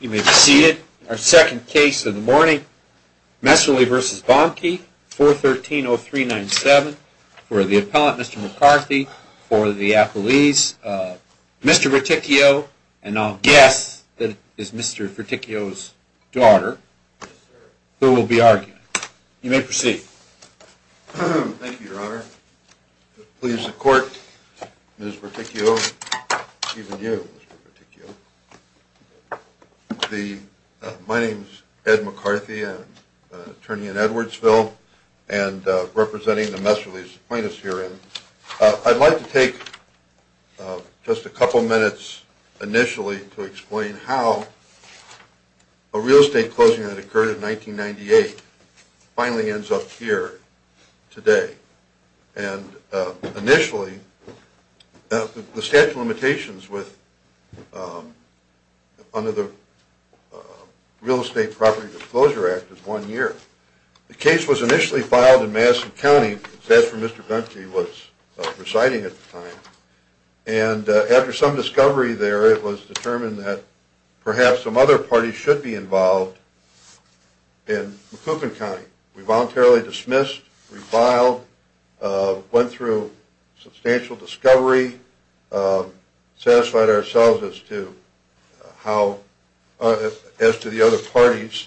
You may be seated. Our second case of the morning, Messerly v. Boehmke, 413-0397, for the appellant, Mr. McCarthy, for the appellees, Mr. Verticchio, and I'll guess that it is Mr. Verticchio's daughter who will be arguing. You may proceed. Thank you, Your Honor. Please, the court, Ms. Verticchio, even you, Mr. Verticchio. My name is Ed McCarthy, an attorney in Edwardsville, and representing the Messerly plaintiffs herein. I'd like to take just a couple minutes initially to explain how a real estate closing that occurred in 1998 finally ends up here today, and initially, the statute of limitations under the Real Estate Property Disclosure Act is one year. The case was initially filed in Madison County, as Mr. Boehmke was presiding at the time, and after some discovery there, it was determined that perhaps some other parties should be involved in McCoupin County. We voluntarily dismissed, reviled, went through substantial discovery, satisfied ourselves as to how – as to the other parties.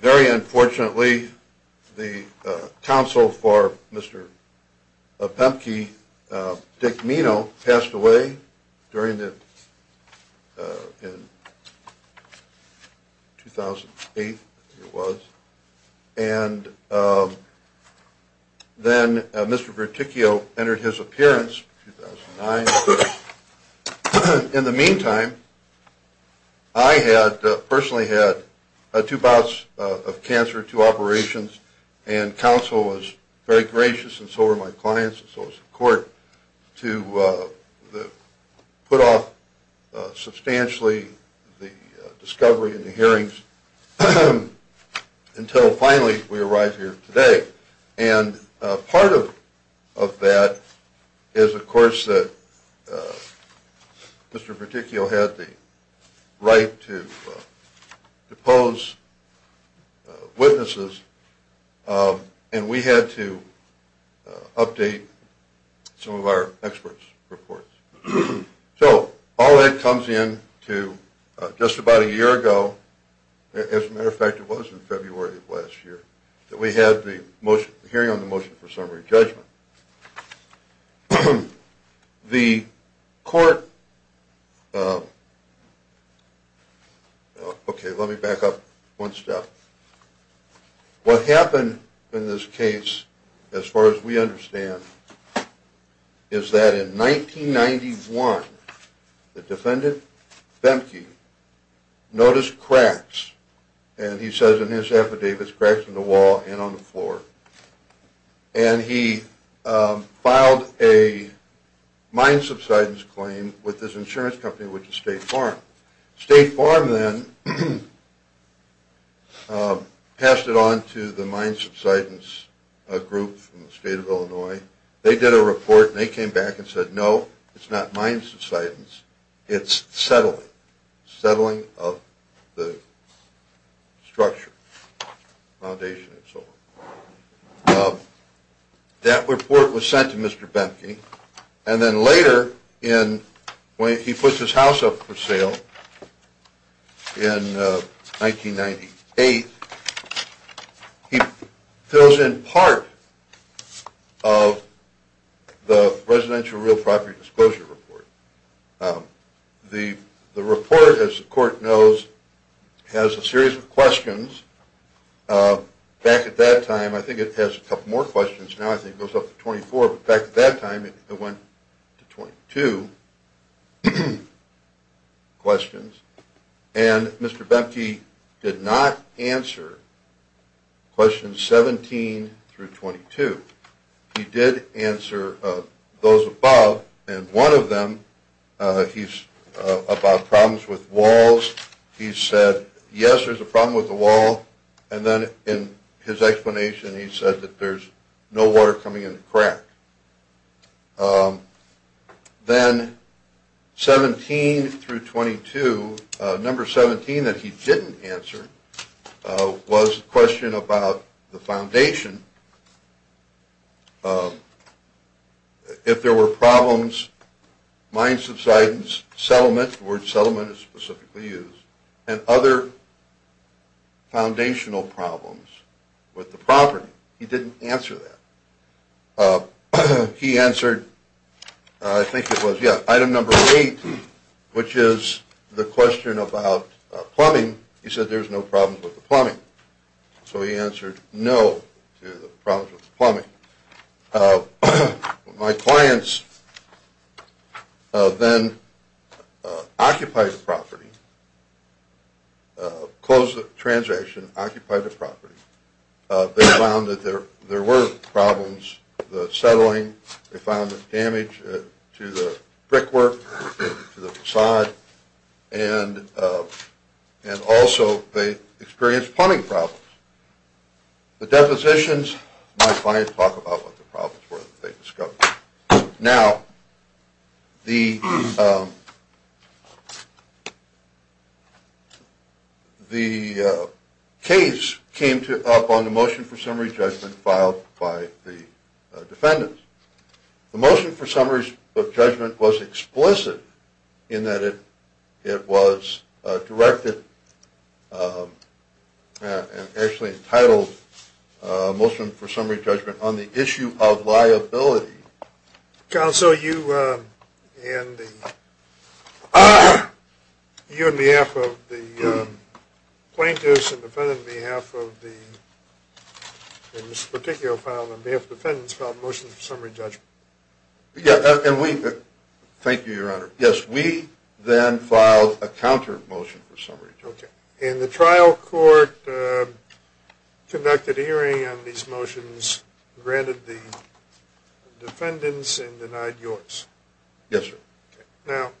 Very unfortunately, the counsel for Mr. Boehmke, Dick Minow, passed away during the – in 2008, I think it was, and then Mr. Verticchio entered his appearance in 2009. In the meantime, I had – personally had two bouts of cancer, two operations, and counsel was very gracious, and so were my clients, and so was the court, to put off substantially the discovery and the hearings until finally we arrive here today. And part of that is, of course, that Mr. Verticchio had the right to depose witnesses, and we had to update some of our experts' reports. So, all that comes in to, just about a year ago, as a matter of fact it was in February of last year, that we had the hearing on the motion for summary judgment. The court – okay, let me back up one step. What happened in this case, as far as we understand, is that in 1991, the defendant, Boehmke, noticed cracks, and he says in his affidavit, there's cracks in the wall and on the floor, and he filed a mine subsidence claim with this insurance company, which is State Farm. State Farm then passed it on to the mine subsidence group from the state of Illinois. They did a report, and they came back and said, no, it's not mine subsidence, it's settling. Settling of the structure, foundation, and so forth. That report was sent to Mr. Boehmke, and then later, when he puts his house up for sale in 1998, he fills in part of the residential real property disclosure report. The report, as the court knows, has a series of questions. Back at that time, I think it has a couple more questions now, I think it goes up to 24, but back at that time it went to 22 questions. And Mr. Boehmke did not answer questions 17 through 22. He did answer those above, and one of them, he's about problems with walls. He said, yes, there's a problem with the wall, and then in his explanation, he said that there's no water coming in the crack. Then, 17 through 22, number 17 that he didn't answer was a question about the foundation. If there were problems, mine subsidence, settlement – the word settlement is specifically used – and other foundational problems with the property, he didn't answer that. He answered, I think it was, yeah, item number 8, which is the question about plumbing. He said there's no problems with the plumbing. So he answered no to the problems with the plumbing. My clients then occupied the property, closed the transaction, occupied the property. They found that there were problems with the settling. They found damage to the brickwork, to the façade, and also they experienced plumbing problems. The depositions, my clients talk about what the problems were that they discovered. Now, the case came up on the motion for summary judgment filed by the defendants. The motion for summary judgment was explicit in that it was directed and actually entitled motion for summary judgment on the issue of liability. Counsel, you and the plaintiffs and defendants filed motions for summary judgment. Thank you, Your Honor. Yes, we then filed a counter motion for summary judgment. Okay. And the trial court conducted a hearing on these motions, granted the defendants, and denied yours. Yes, sir. Now,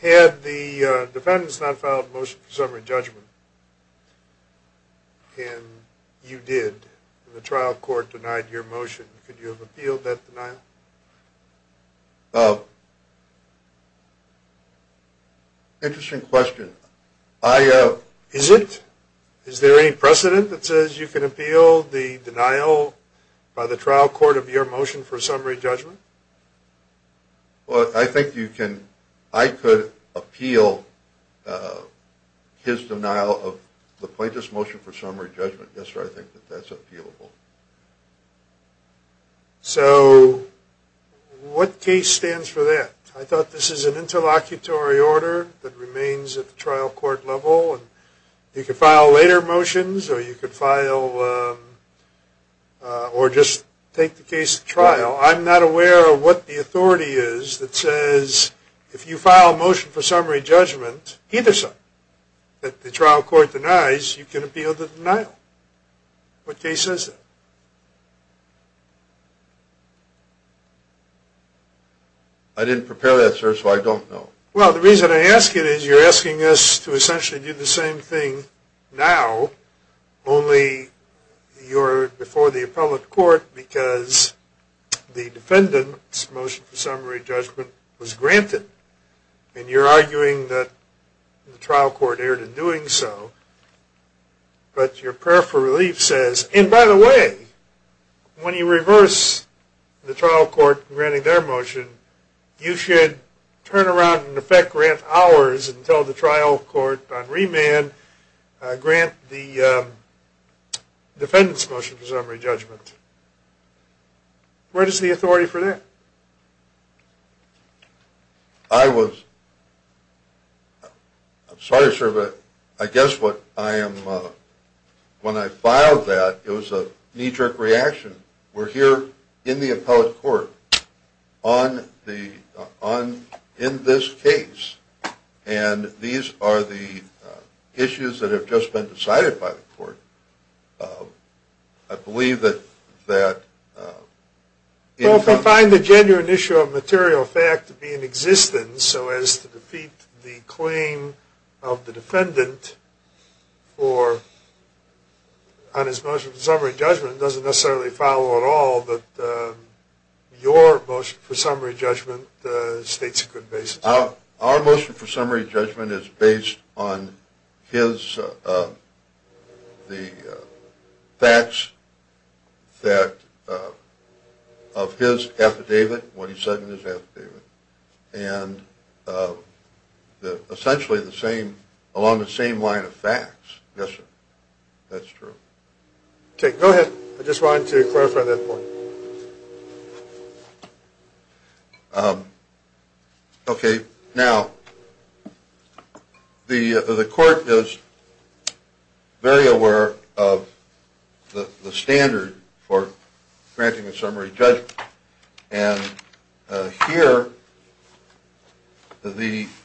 had the defendants not filed a motion for summary judgment, and you did, and the trial court denied your motion, could you have appealed that denial? Interesting question. Is it? Is there any precedent that says you can appeal the denial by the trial court of your motion for summary judgment? Well, I think you can. I could appeal his denial of the plaintiff's motion for summary judgment. Yes, sir. I think that that's appealable. So, what case stands for that? I thought this is an interlocutory order that remains at the trial court level. You could file later motions, or you could file, or just take the case to trial. I'm not aware of what the authority is that says if you file a motion for summary judgment, either side, that the trial court denies, you can appeal the denial. What case is it? I didn't prepare that, sir, so I don't know. Well, the reason I ask it is you're asking us to essentially do the same thing now, only you're before the appellate court because the defendant's motion for summary judgment was granted. And you're arguing that the trial court erred in doing so, but your prayer for relief says, and by the way, when you reverse the trial court granting their motion, you should turn around and in effect grant ours until the trial court on remand grant the defendant's motion for summary judgment. Where is the authority for that? I was – I'm sorry, sir, but I guess what I am – when I filed that, it was a knee-jerk reaction. We're here in the appellate court on the – in this case, and these are the issues that have just been decided by the court. I believe that that – Well, if I find the genuine issue of material fact to be in existence, so as to defeat the claim of the defendant for – on his motion for summary judgment, it doesn't necessarily follow at all that your motion for summary judgment states a good basis. Our motion for summary judgment is based on his – the facts that – of his affidavit, what he said in his affidavit. And essentially the same – along the same line of facts. Yes, sir. That's true. Okay, go ahead. I just wanted to clarify that point. Okay, now, the court is very aware of the standard for granting a summary judgment. And here, the –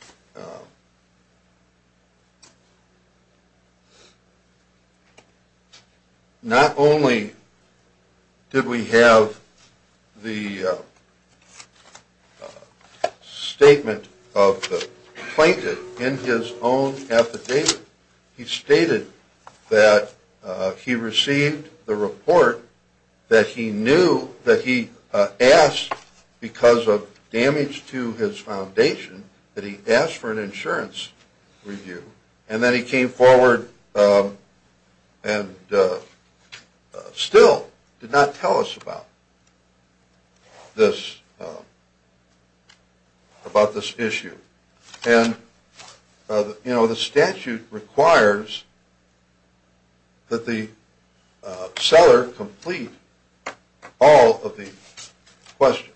not only did we have the statement of the plaintiff in his own affidavit, he stated that he received the report that he knew that he asked, because of damage to his foundation, that he asked for an insurance review. And then he came forward and still did not tell us about this – about this issue. And, you know, the statute requires that the seller complete all of the questions.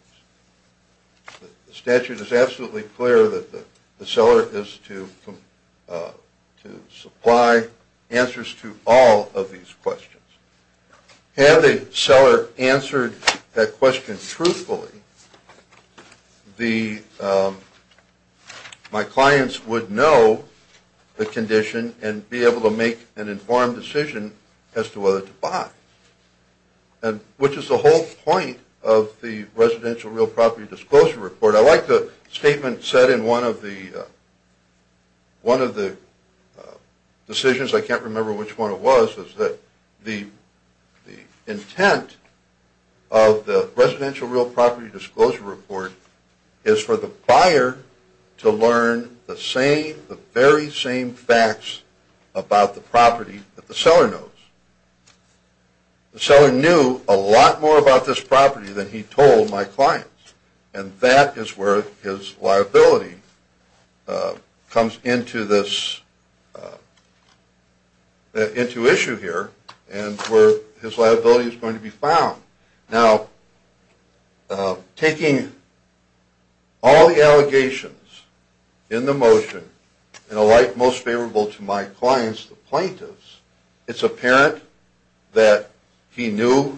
The statute is absolutely clear that the seller is to supply answers to all of these questions. Had the seller answered that question truthfully, the – my clients would know the condition and be able to make an informed decision as to whether to buy. And – which is the whole point of the residential real property disclosure report. I like the statement said in one of the – one of the decisions – I can't remember which one it was – is that the intent of the residential real property disclosure report is for the buyer to learn the same – the very same facts about the property that the seller knows. The seller knew a lot more about this property than he told my clients. And that is where his liability comes into this – into issue here and where his liability is going to be found. Now, taking all the allegations in the motion in a light most favorable to my clients, the plaintiffs, it's apparent that he knew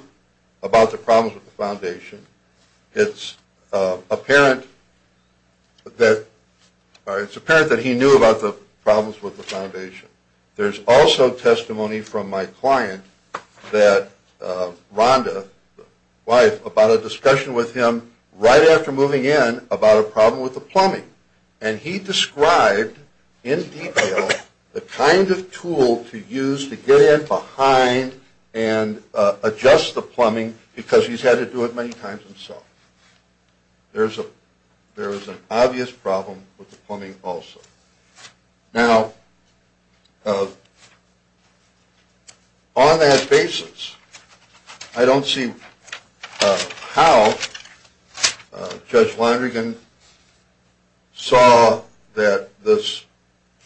about the problems with the foundation. It's apparent that – or it's apparent that he knew about the problems with the foundation. There's also testimony from my client that Rhonda, the wife, about a discussion with him right after moving in about a problem with the plumbing. And he described in detail the kind of tool to use to get in behind and adjust the plumbing because he's had to do it many times himself. There's a – there's an obvious problem with the plumbing also. Now, on that basis, I don't see how Judge Vlandergan saw that this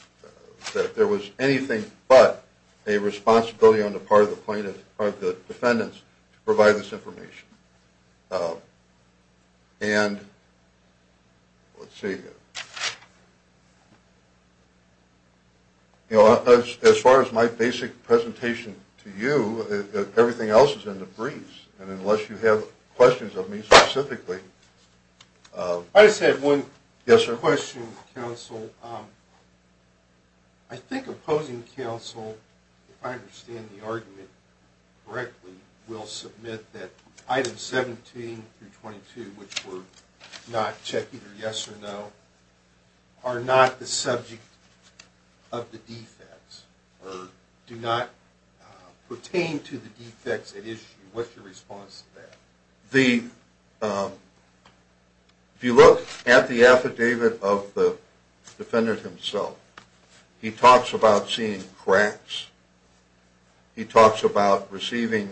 – that there was anything but a responsibility on the part of the plaintiff – or the defendants to provide this information. And let's see here. You know, as far as my basic presentation to you, everything else is in the briefs. And unless you have questions of me specifically – Item 17 through 22, which we're not checking for yes or no, are not the subject of the defects or do not pertain to the defects at issue. What's your response to that? The – if you look at the affidavit of the defendant himself, he talks about seeing cracks. He talks about receiving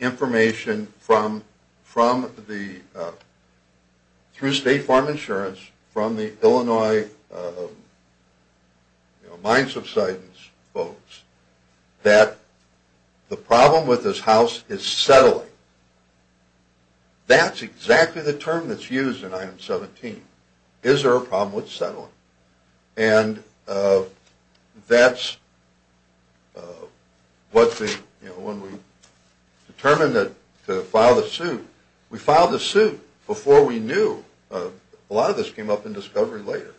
information from the – through State Farm Insurance, from the Illinois Mine Subsidence folks, that the problem with this house is settling. That's exactly the term that's used in Item 17. Is there a problem with settling? And that's what the – you know, when we determined to file the suit, we filed the suit before we knew. A lot of this came up in discovery later.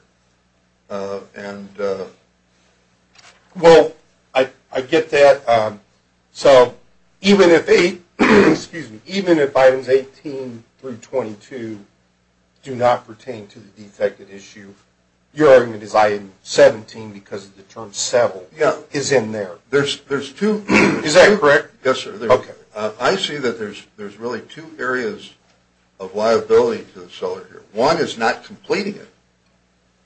Well, I get that. So even if – excuse me – even if Items 18 through 22 do not pertain to the defect at issue, your argument is Item 17 because of the term settle is in there. There's two – Is that correct? Yes, sir. Okay. I see that there's really two areas of liability to the seller here. One is not completing it.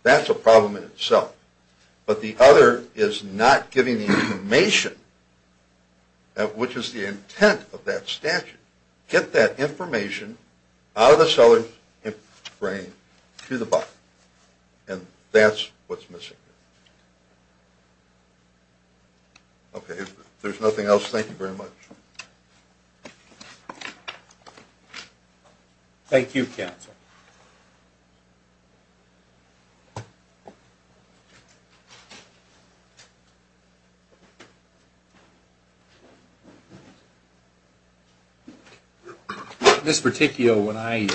That's a problem in itself. But the other is not giving the information, which is the intent of that statute. Get that information out of the seller's brain to the buyer. And that's what's missing. Okay. If there's nothing else, thank you very much. Thank you, counsel. Thank you. Ms. Verticchio, when I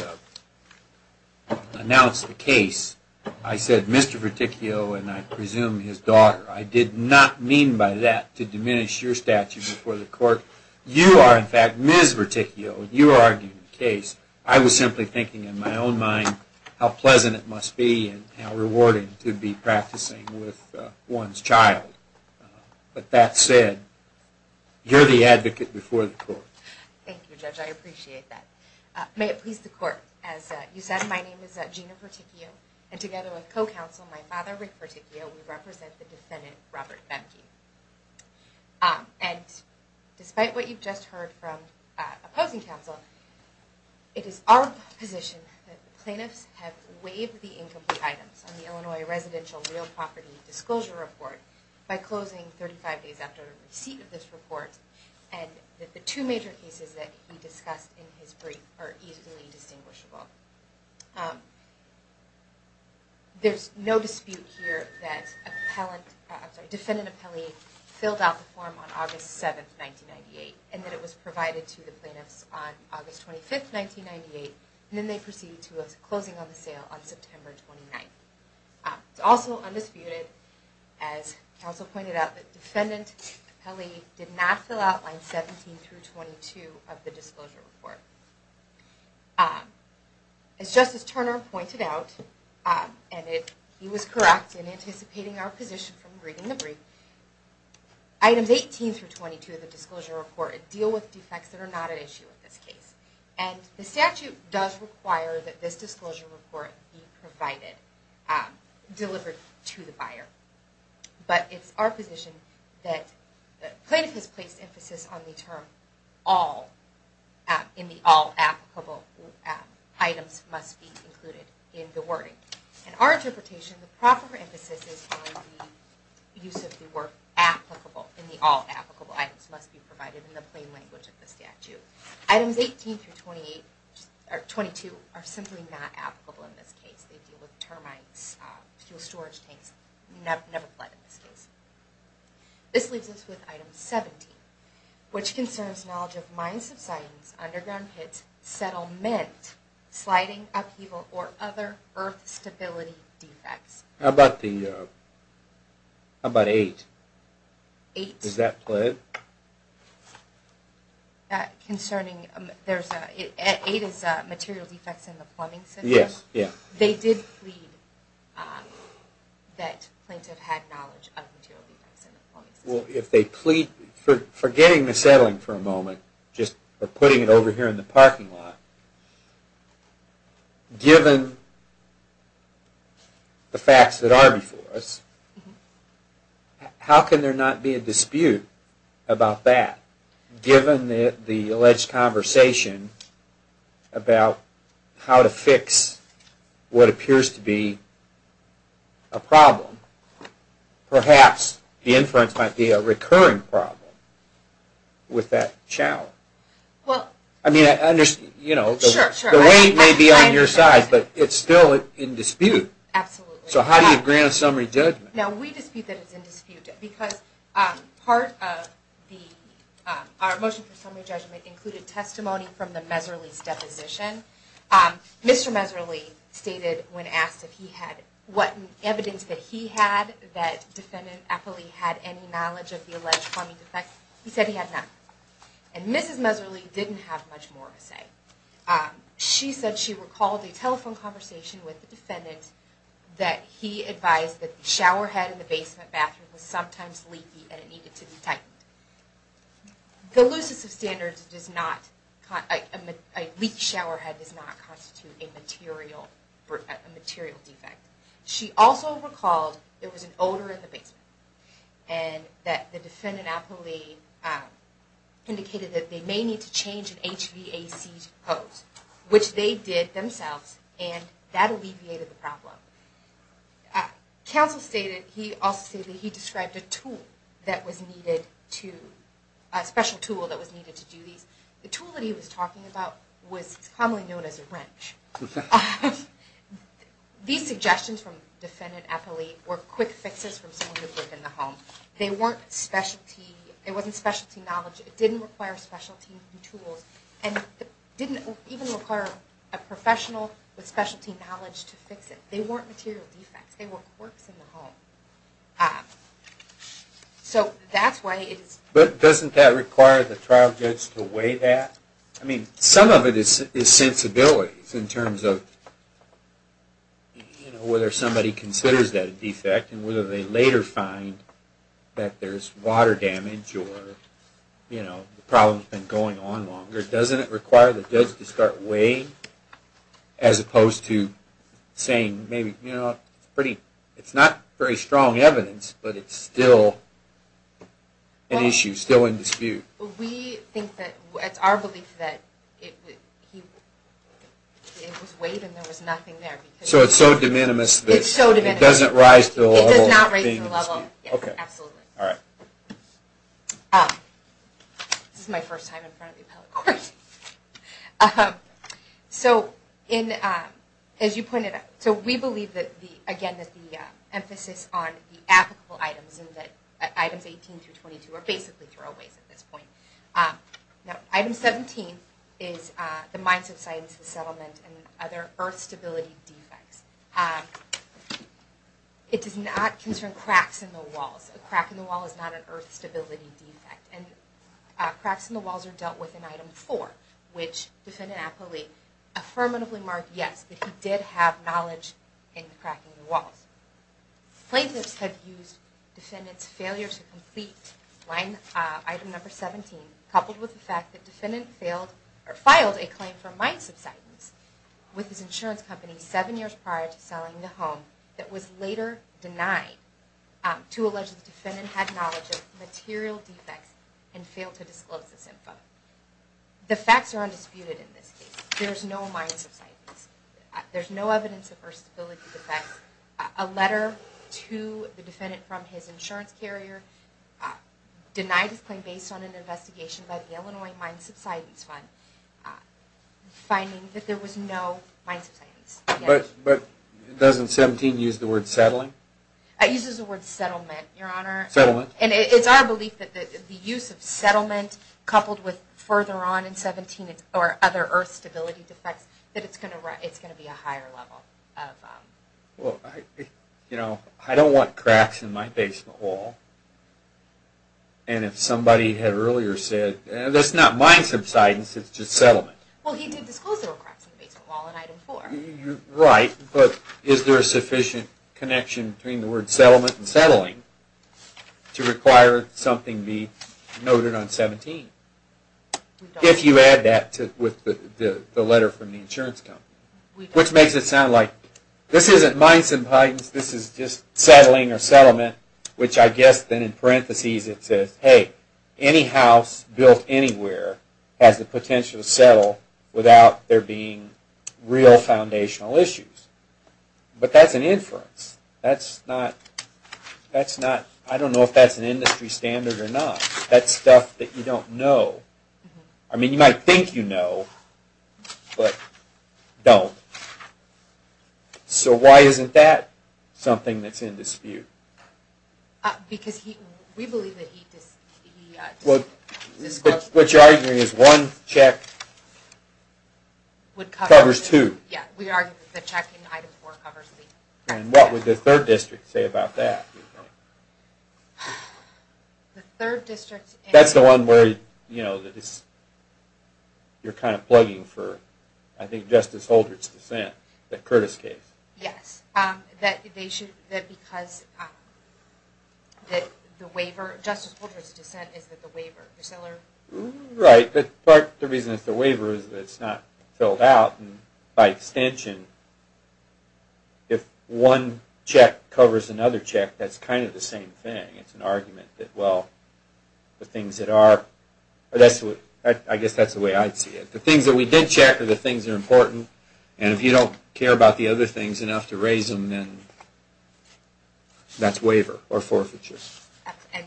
announced the case, I said Mr. Verticchio and I presume his daughter. I did not mean by that to diminish your statute before the court. You are, in fact, Ms. Verticchio. You are arguing the case. I was simply thinking in my own mind how pleasant it must be and how rewarding it could be practicing with one's child. But that said, you're the advocate before the court. Thank you, Judge. I appreciate that. May it please the court. As you said, my name is Gina Verticchio, and together with co-counsel, my father, Rick Verticchio, we represent the defendant, Robert Bemke. And despite what you've just heard from opposing counsel, it is our position that the plaintiffs have waived the incomplete items on the Illinois Residential Real Property Disclosure Report by closing 35 days after receipt of this report and that the two major cases that we discussed in his brief are easily distinguishable. There's no dispute here that defendant Apelli filled out the form on August 7, 1998, and that it was provided to the plaintiffs on August 25, 1998, and then they proceeded to a closing on the sale on September 29. It's also undisputed, as counsel pointed out, that defendant Apelli did not fill out lines 17 through 22 of the disclosure report. As Justice Turner pointed out, and he was correct in anticipating our position from reading the brief, items 18 through 22 of the disclosure report deal with defects that are not at issue in this case. And the statute does require that this disclosure report be provided, delivered to the buyer. But it's our position that the plaintiff has placed emphasis on the term all in the all applicable items must be included in the wording. In our interpretation, the proper emphasis is on the use of the word applicable in the all applicable items must be provided in the plain language of the statute. Items 18 through 22 are simply not applicable in this case. They deal with termites, fuel storage tanks, never applied in this case. This leaves us with item 17, which concerns knowledge of mine subsidence, underground pits, settlement, sliding, upheaval, or other earth stability defects. How about the, how about 8? 8. Does that play? Concerning, there's, 8 is material defects in the plumbing system. Yes, yes. They did plead that plaintiff had knowledge of material defects in the plumbing system. Well, if they plead for forgetting the settling for a moment, just for putting it over here in the parking lot, given the facts that are before us, how can there not be a dispute about that? Given the alleged conversation about how to fix what appears to be a problem, perhaps the inference might be a recurring problem with that challenge. Well. I mean, I understand, you know, the weight may be on your side, but it's still in dispute. Absolutely. So how do you grant a summary judgment? Now, we dispute that it's in dispute, because part of the, our motion for summary judgment included testimony from the Miserly's deposition. Mr. Miserly stated when asked if he had, what evidence that he had that defendant actually had any knowledge of the alleged plumbing defects, he said he had none. And Mrs. Miserly didn't have much more to say. She said she recalled a telephone conversation with the defendant that he advised that the showerhead in the basement bathroom was sometimes leaky and it needed to be tightened. The looseness of standards does not, a leaked showerhead does not constitute a material defect. She also recalled there was an odor in the basement and that the defendant actually indicated that they may need to change an HVAC hose, which they did themselves, and that alleviated the problem. Counsel stated, he also stated he described a tool that was needed to, a special tool that was needed to do these. The tool that he was talking about was commonly known as a wrench. These suggestions from defendant Eppley were quick fixes from someone who lived in the home. They weren't specialty, it wasn't specialty knowledge. It didn't require specialty tools and didn't even require a professional with specialty knowledge to fix it. They weren't material defects. They were quirks in the home. So that's why it is. But doesn't that require the trial judge to weigh that? I mean, some of it is sensibilities in terms of, you know, whether somebody considers that a defect and whether they later find that there's water damage or, you know, the problem's been going on longer. Doesn't it require the judge to start weighing as opposed to saying maybe, you know, it's pretty, it's not very strong evidence, but it's still an issue, still in dispute. We think that, it's our belief that it was weighed and there was nothing there. So it's so de minimis that it doesn't rise to a whole thing in dispute. It does not raise the level, yes, absolutely. All right. This is my first time in front of the appellate court. So in, as you pointed out, so we believe that the, again, that the emphasis on the applicable items and that items 18 through 22 are basically throwaways at this point. Item 17 is the mindset, science, and settlement and other earth stability defects. It does not concern cracks in the walls. A crack in the wall is not an earth stability defect. Cracks in the walls are dealt with in item four, which defendant appellee affirmatively marked yes, that he did have knowledge in cracking the walls. Plaintiffs have used defendant's failure to complete line, item number 17, coupled with the fact that defendant failed or filed a claim for mind subsidence with his insurance company seven years prior to selling the home that was later denied to allege that the defendant had knowledge of material defects and failed to disclose this info. The facts are undisputed in this case. There's no mind subsidence. There's no evidence of earth stability defects. A letter to the defendant from his insurance carrier denied his claim based on an investigation by the Illinois Mind Subsidence Fund finding that there was no mind subsidence. But doesn't 17 use the word settling? It uses the word settlement, your honor. Settlement. And it's our belief that the use of settlement coupled with further on in 17 or other earth stability defects, that it's going to be a higher level of... You know, I don't want cracks in my basement wall. And if somebody had earlier said, that's not mind subsidence, it's just settlement. Well, he did disclose there were cracks in the basement wall in item four. Right, but is there a sufficient connection between the word settlement and settling to require something be noted on 17? If you add that with the letter from the insurance company. Which makes it sound like this isn't mind subsidence, this is just settling or settlement. Which I guess then in parenthesis it says, hey, any house built anywhere has the potential to settle without there being real foundational issues. But that's an inference. That's not... I don't know if that's an industry standard or not. That's stuff that you don't know. I mean, you might think you know, but don't. So why isn't that something that's in dispute? Because we believe that he... What you're arguing is one check covers two. Yeah, we argue that the check in item four covers three. And what would the third district say about that? The third district... That's the one where you're kind of plugging for, I think, Justice Holder's dissent, the Curtis case. Yes. That because the waiver... Justice Holder's dissent is that the waiver... Right, but part of the reason it's the waiver is that it's not filled out. By extension, if one check covers another check, that's kind of the same thing. It's an argument that, well, the things that are... I guess that's the way I'd see it. The things that we did check are the things that are important. And if you don't care about the other things enough to raise them, then that's waiver or forfeiture. And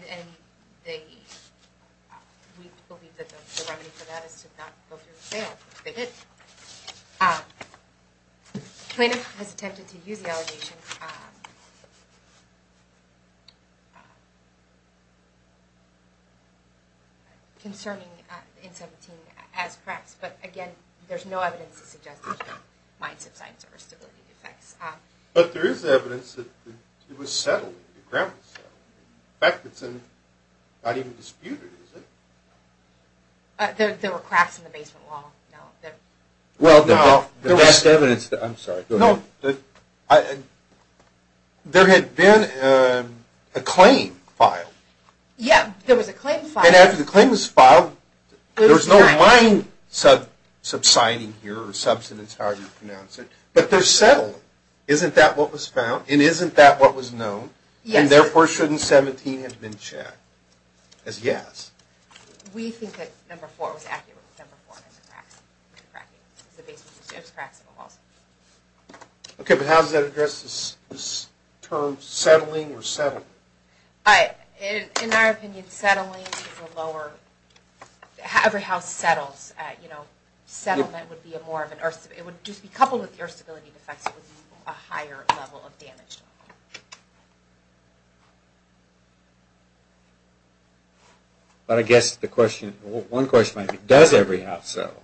we believe that the remedy for that is to not go through with bail, but they did. Plaintiff has attempted to use the allegation concerning N17 as perhaps... But, again, there's no evidence to suggest that there are mindset signs or stability defects. But there is evidence that it was settled, the ground was settled. In fact, it's not even disputed, is it? There were cracks in the basement wall. Well, the best evidence... I'm sorry, go ahead. There had been a claim filed. Yeah, there was a claim filed. And after the claim was filed, there was no mind subsiding here, or subsidence, however you pronounce it. But they're settled. Isn't that what was found? And isn't that what was known? Yes. And therefore, shouldn't 17 have been checked as yes? We think that number four was accurate. Number four had the cracks in the basement. The basement just has cracks in the walls. Okay, but how does that address this term, settling or settled? In our opinion, settling is a lower... Every house settles. Settlement would be a more of an... It would just be coupled with air stability defects. It would be a higher level of damage. But I guess the question... One question might be, does every house settle?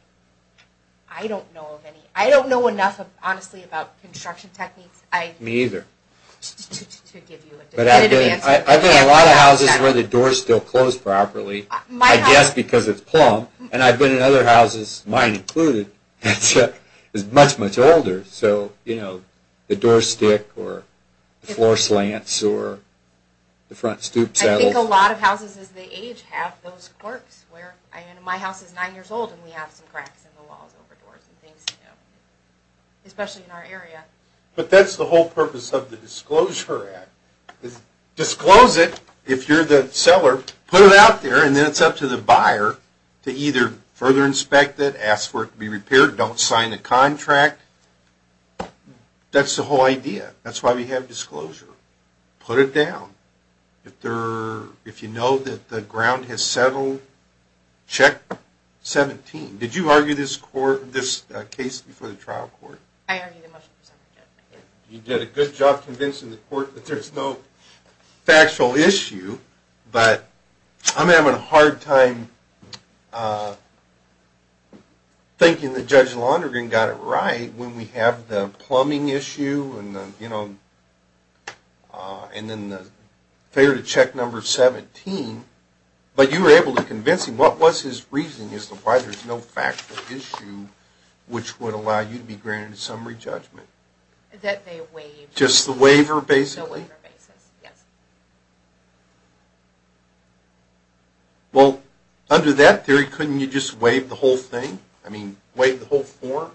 I don't know of any. I don't know enough, honestly, about construction techniques. Me either. I've been in a lot of houses where the doors still close properly, I guess because it's plumb. And I've been in other houses, mine included, that's much, much older. So, you know, the doors stick or the floor slants or the front stoop settles. I think a lot of houses as they age have those quirks where... I mean, my house is nine years old and we have some cracks in the walls, over doors and things, you know, especially in our area. But that's the whole purpose of the Disclosure Act. Disclose it if you're the seller. Put it out there, and then it's up to the buyer to either further inspect it, ask for it to be repaired, don't sign a contract. That's the whole idea. That's why we have disclosure. Put it down. If you know that the ground has settled, check 17. Did you argue this case before the trial court? I argued it much before the trial court. You did a good job convincing the court that there's no factual issue, but I'm having a hard time thinking that Judge Lonergan got it right when we have the plumbing issue and, you know, and then the failure to check number 17. But you were able to convince him. What was his reasoning as to why there's no factual issue, which would allow you to be granted a summary judgment? That they waived. Just the waiver, basically? The waiver basis, yes. Well, under that theory, couldn't you just waive the whole thing? I mean, waive the whole form,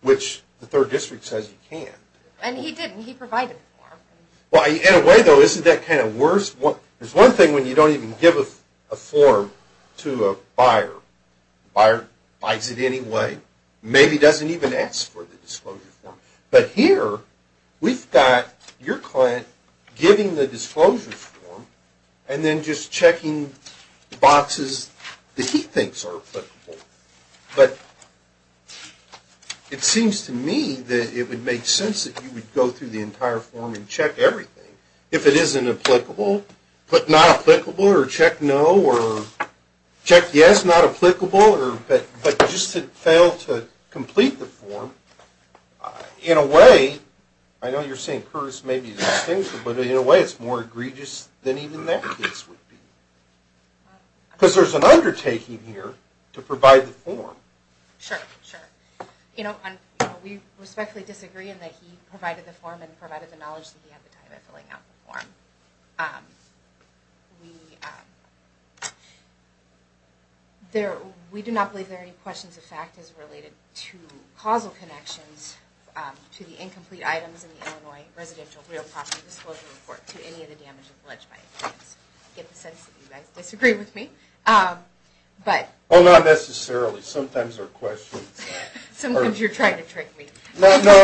which the Third District says you can't. And he didn't. He provided a form. In a way, though, isn't that kind of worse? There's one thing when you don't even give a form to a buyer. Buyer buys it anyway, maybe doesn't even ask for the disclosure form. But here, we've got your client giving the disclosure form and then just checking boxes that he thinks are applicable. But it seems to me that it would make sense that you would go through the entire form and check everything. If it isn't applicable, put not applicable, or check no, or check yes, not applicable. But just to fail to complete the form, in a way, I know you're saying Curtis may be distinctive, but in a way it's more egregious than even that case would be. Because there's an undertaking here to provide the form. Sure, sure. We respectfully disagree in that he provided the form and provided the knowledge that he had at the time of filling out the form. We do not believe there are any questions of fact as related to causal connections to the incomplete items in the Illinois Residential Real Property Disclosure Report to any of the damages alleged by evidence. I get the sense that you guys disagree with me. Well, not necessarily. Sometimes there are questions. Sometimes you're trying to trick me. No, no.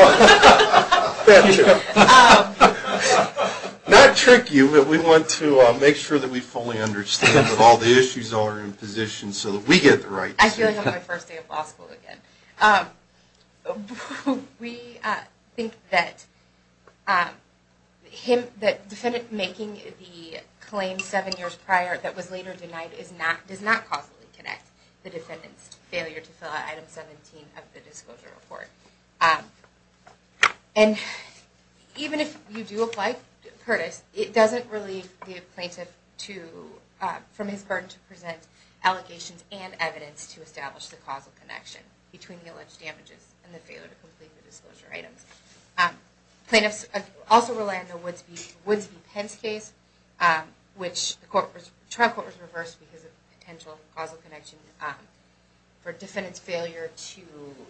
Not trick you, but we want to make sure that we fully understand that all the issues are in position so that we get the right answer. I feel like I'm on my first day of law school again. We think that the defendant making the claim seven years prior that was later denied does not causally connect the defendant's failure to fill out item 17 of the disclosure report. And even if you do apply Curtis, it doesn't relieve the plaintiff from his burden to present allegations and evidence to establish the causal connection between the alleged damages and the failure to complete the disclosure items. Plaintiffs also rely on the Woodsby-Pence case, which the trial court was reversed because of potential causal connection for defendant's failure to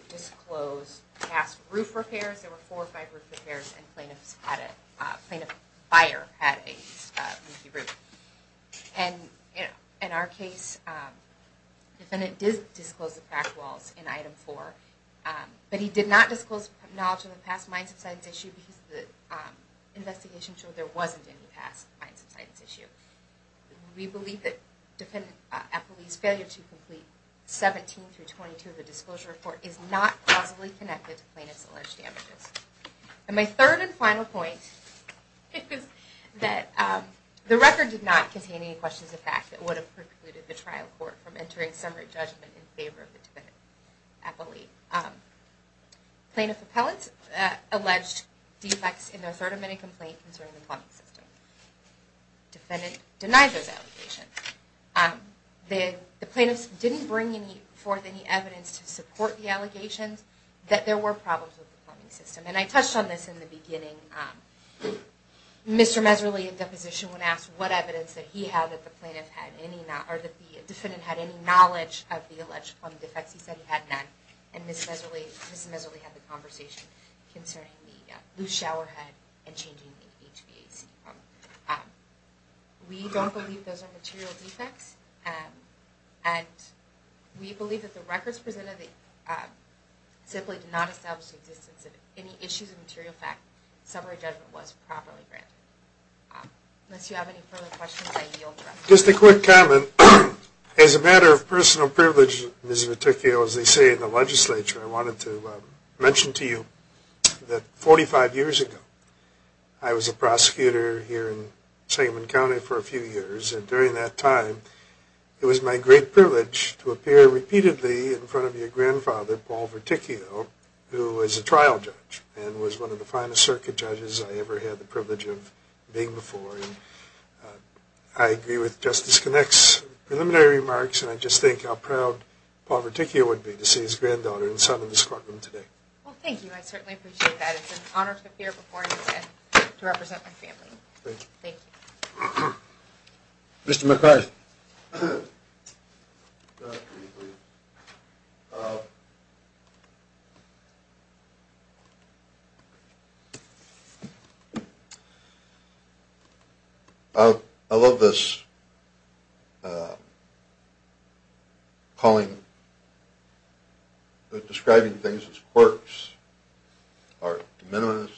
disclose past roof repairs. There were four or five roof repairs, and plaintiff's buyer had a leaky roof. And in our case, the defendant did disclose the back walls in item four, but he did not disclose knowledge of the past mine subsidence issue because the investigation showed there wasn't any past mine subsidence issue. We believe that defendant Eppley's failure to complete 17 through 22 of the disclosure report is not causally connected to plaintiff's alleged damages. And my third and final point is that the record did not contain any questions of fact that would have precluded the trial court from entering summary judgment in favor of the defendant Eppley. Plaintiff appellants alleged defects in their third amendment complaint concerning the plumbing system. Defendant denied those allegations. The plaintiffs didn't bring forth any evidence to support the allegations that there were problems with the plumbing system. And I touched on this in the beginning. Mr. Miserly, in deposition, when asked what evidence that he had that the defendant had any knowledge of the alleged plumbing defects, he said he had none. And Ms. Miserly had the conversation concerning the loose showerhead and changing the HVAC pump. We don't believe those are material defects, and we believe that the records presented simply do not establish the existence of any issues of material fact that summary judgment was properly granted. Unless you have any further questions, I yield the record. Just a quick comment. As a matter of personal privilege, Ms. Viticchio, as they say in the legislature, I wanted to mention to you that 45 years ago, I was a prosecutor here in Sangamon County for a few years. And during that time, it was my great privilege to appear repeatedly in front of your grandfather, Paul Viticchio, who was a trial judge and was one of the finest circuit judges I ever had the privilege of being before. I agree with Justice Connick's preliminary remarks, and I just think how proud Paul Viticchio would be to see his granddaughter and son in this courtroom today. Well, thank you. I certainly appreciate that. It's an honor to appear before you today to represent my family. Thank you. Mr. McCarthy. Thank you. I love this calling, describing things as quirks or de minimis.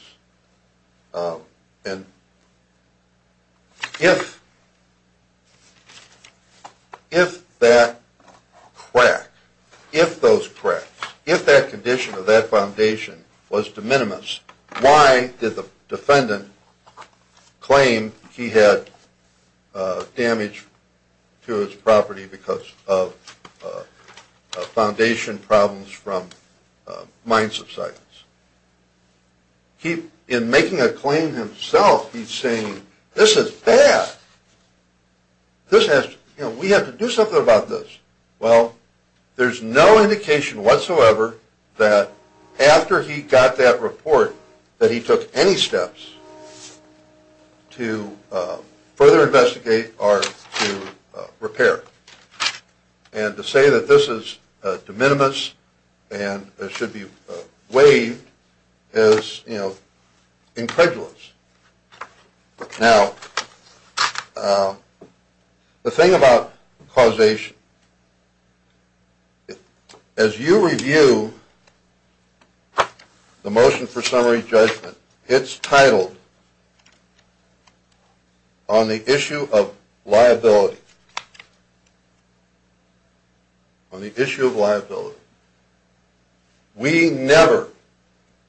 And if that crack, if those cracks, if that condition of that foundation was de minimis, why did the defendant claim he had damage to his property because of foundation problems from mine subsidence? In making a claim himself, he's saying, this is bad. We have to do something about this. Well, there's no indication whatsoever that after he got that report, that he took any steps to further investigate or to repair. And to say that this is de minimis and it should be waived is, you know, incredulous. Now, the thing about causation, as you review the motion for summary judgment, it's titled, On the Issue of Liability. On the Issue of Liability. We never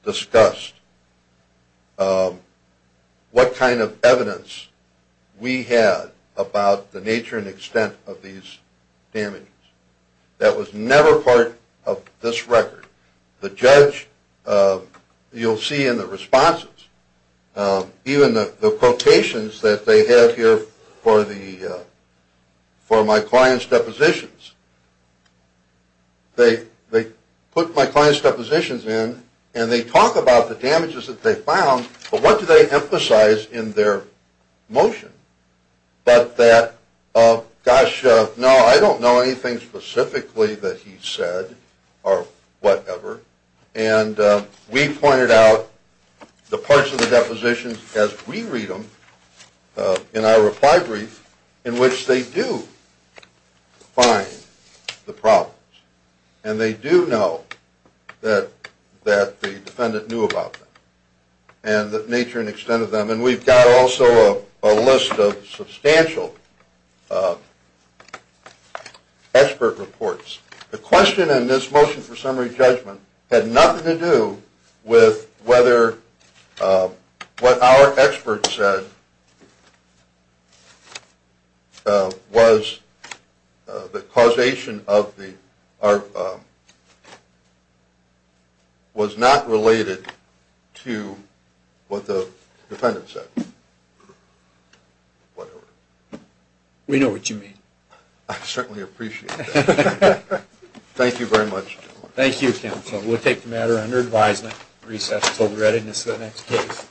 discussed what kind of evidence we had about the nature and extent of these damages. That was never part of this record. The judge, you'll see in the responses, even the quotations that they have here for my client's depositions, they put my client's depositions in and they talk about the damages that they found, but what do they emphasize in their motion? But that, gosh, no, I don't know anything specifically that he said or whatever. And we pointed out the parts of the depositions as we read them in our reply brief, in which they do find the problems. And they do know that the defendant knew about them and the nature and extent of them. And we've got also a list of substantial expert reports. The question in this motion for summary judgment had nothing to do with whether what our expert said was the causation of the, or was not related to what the defendant said. Whatever. We know what you mean. I certainly appreciate that. Thank you very much, gentlemen. Thank you, counsel. We'll take the matter under advisement, recess until the readiness of the next case.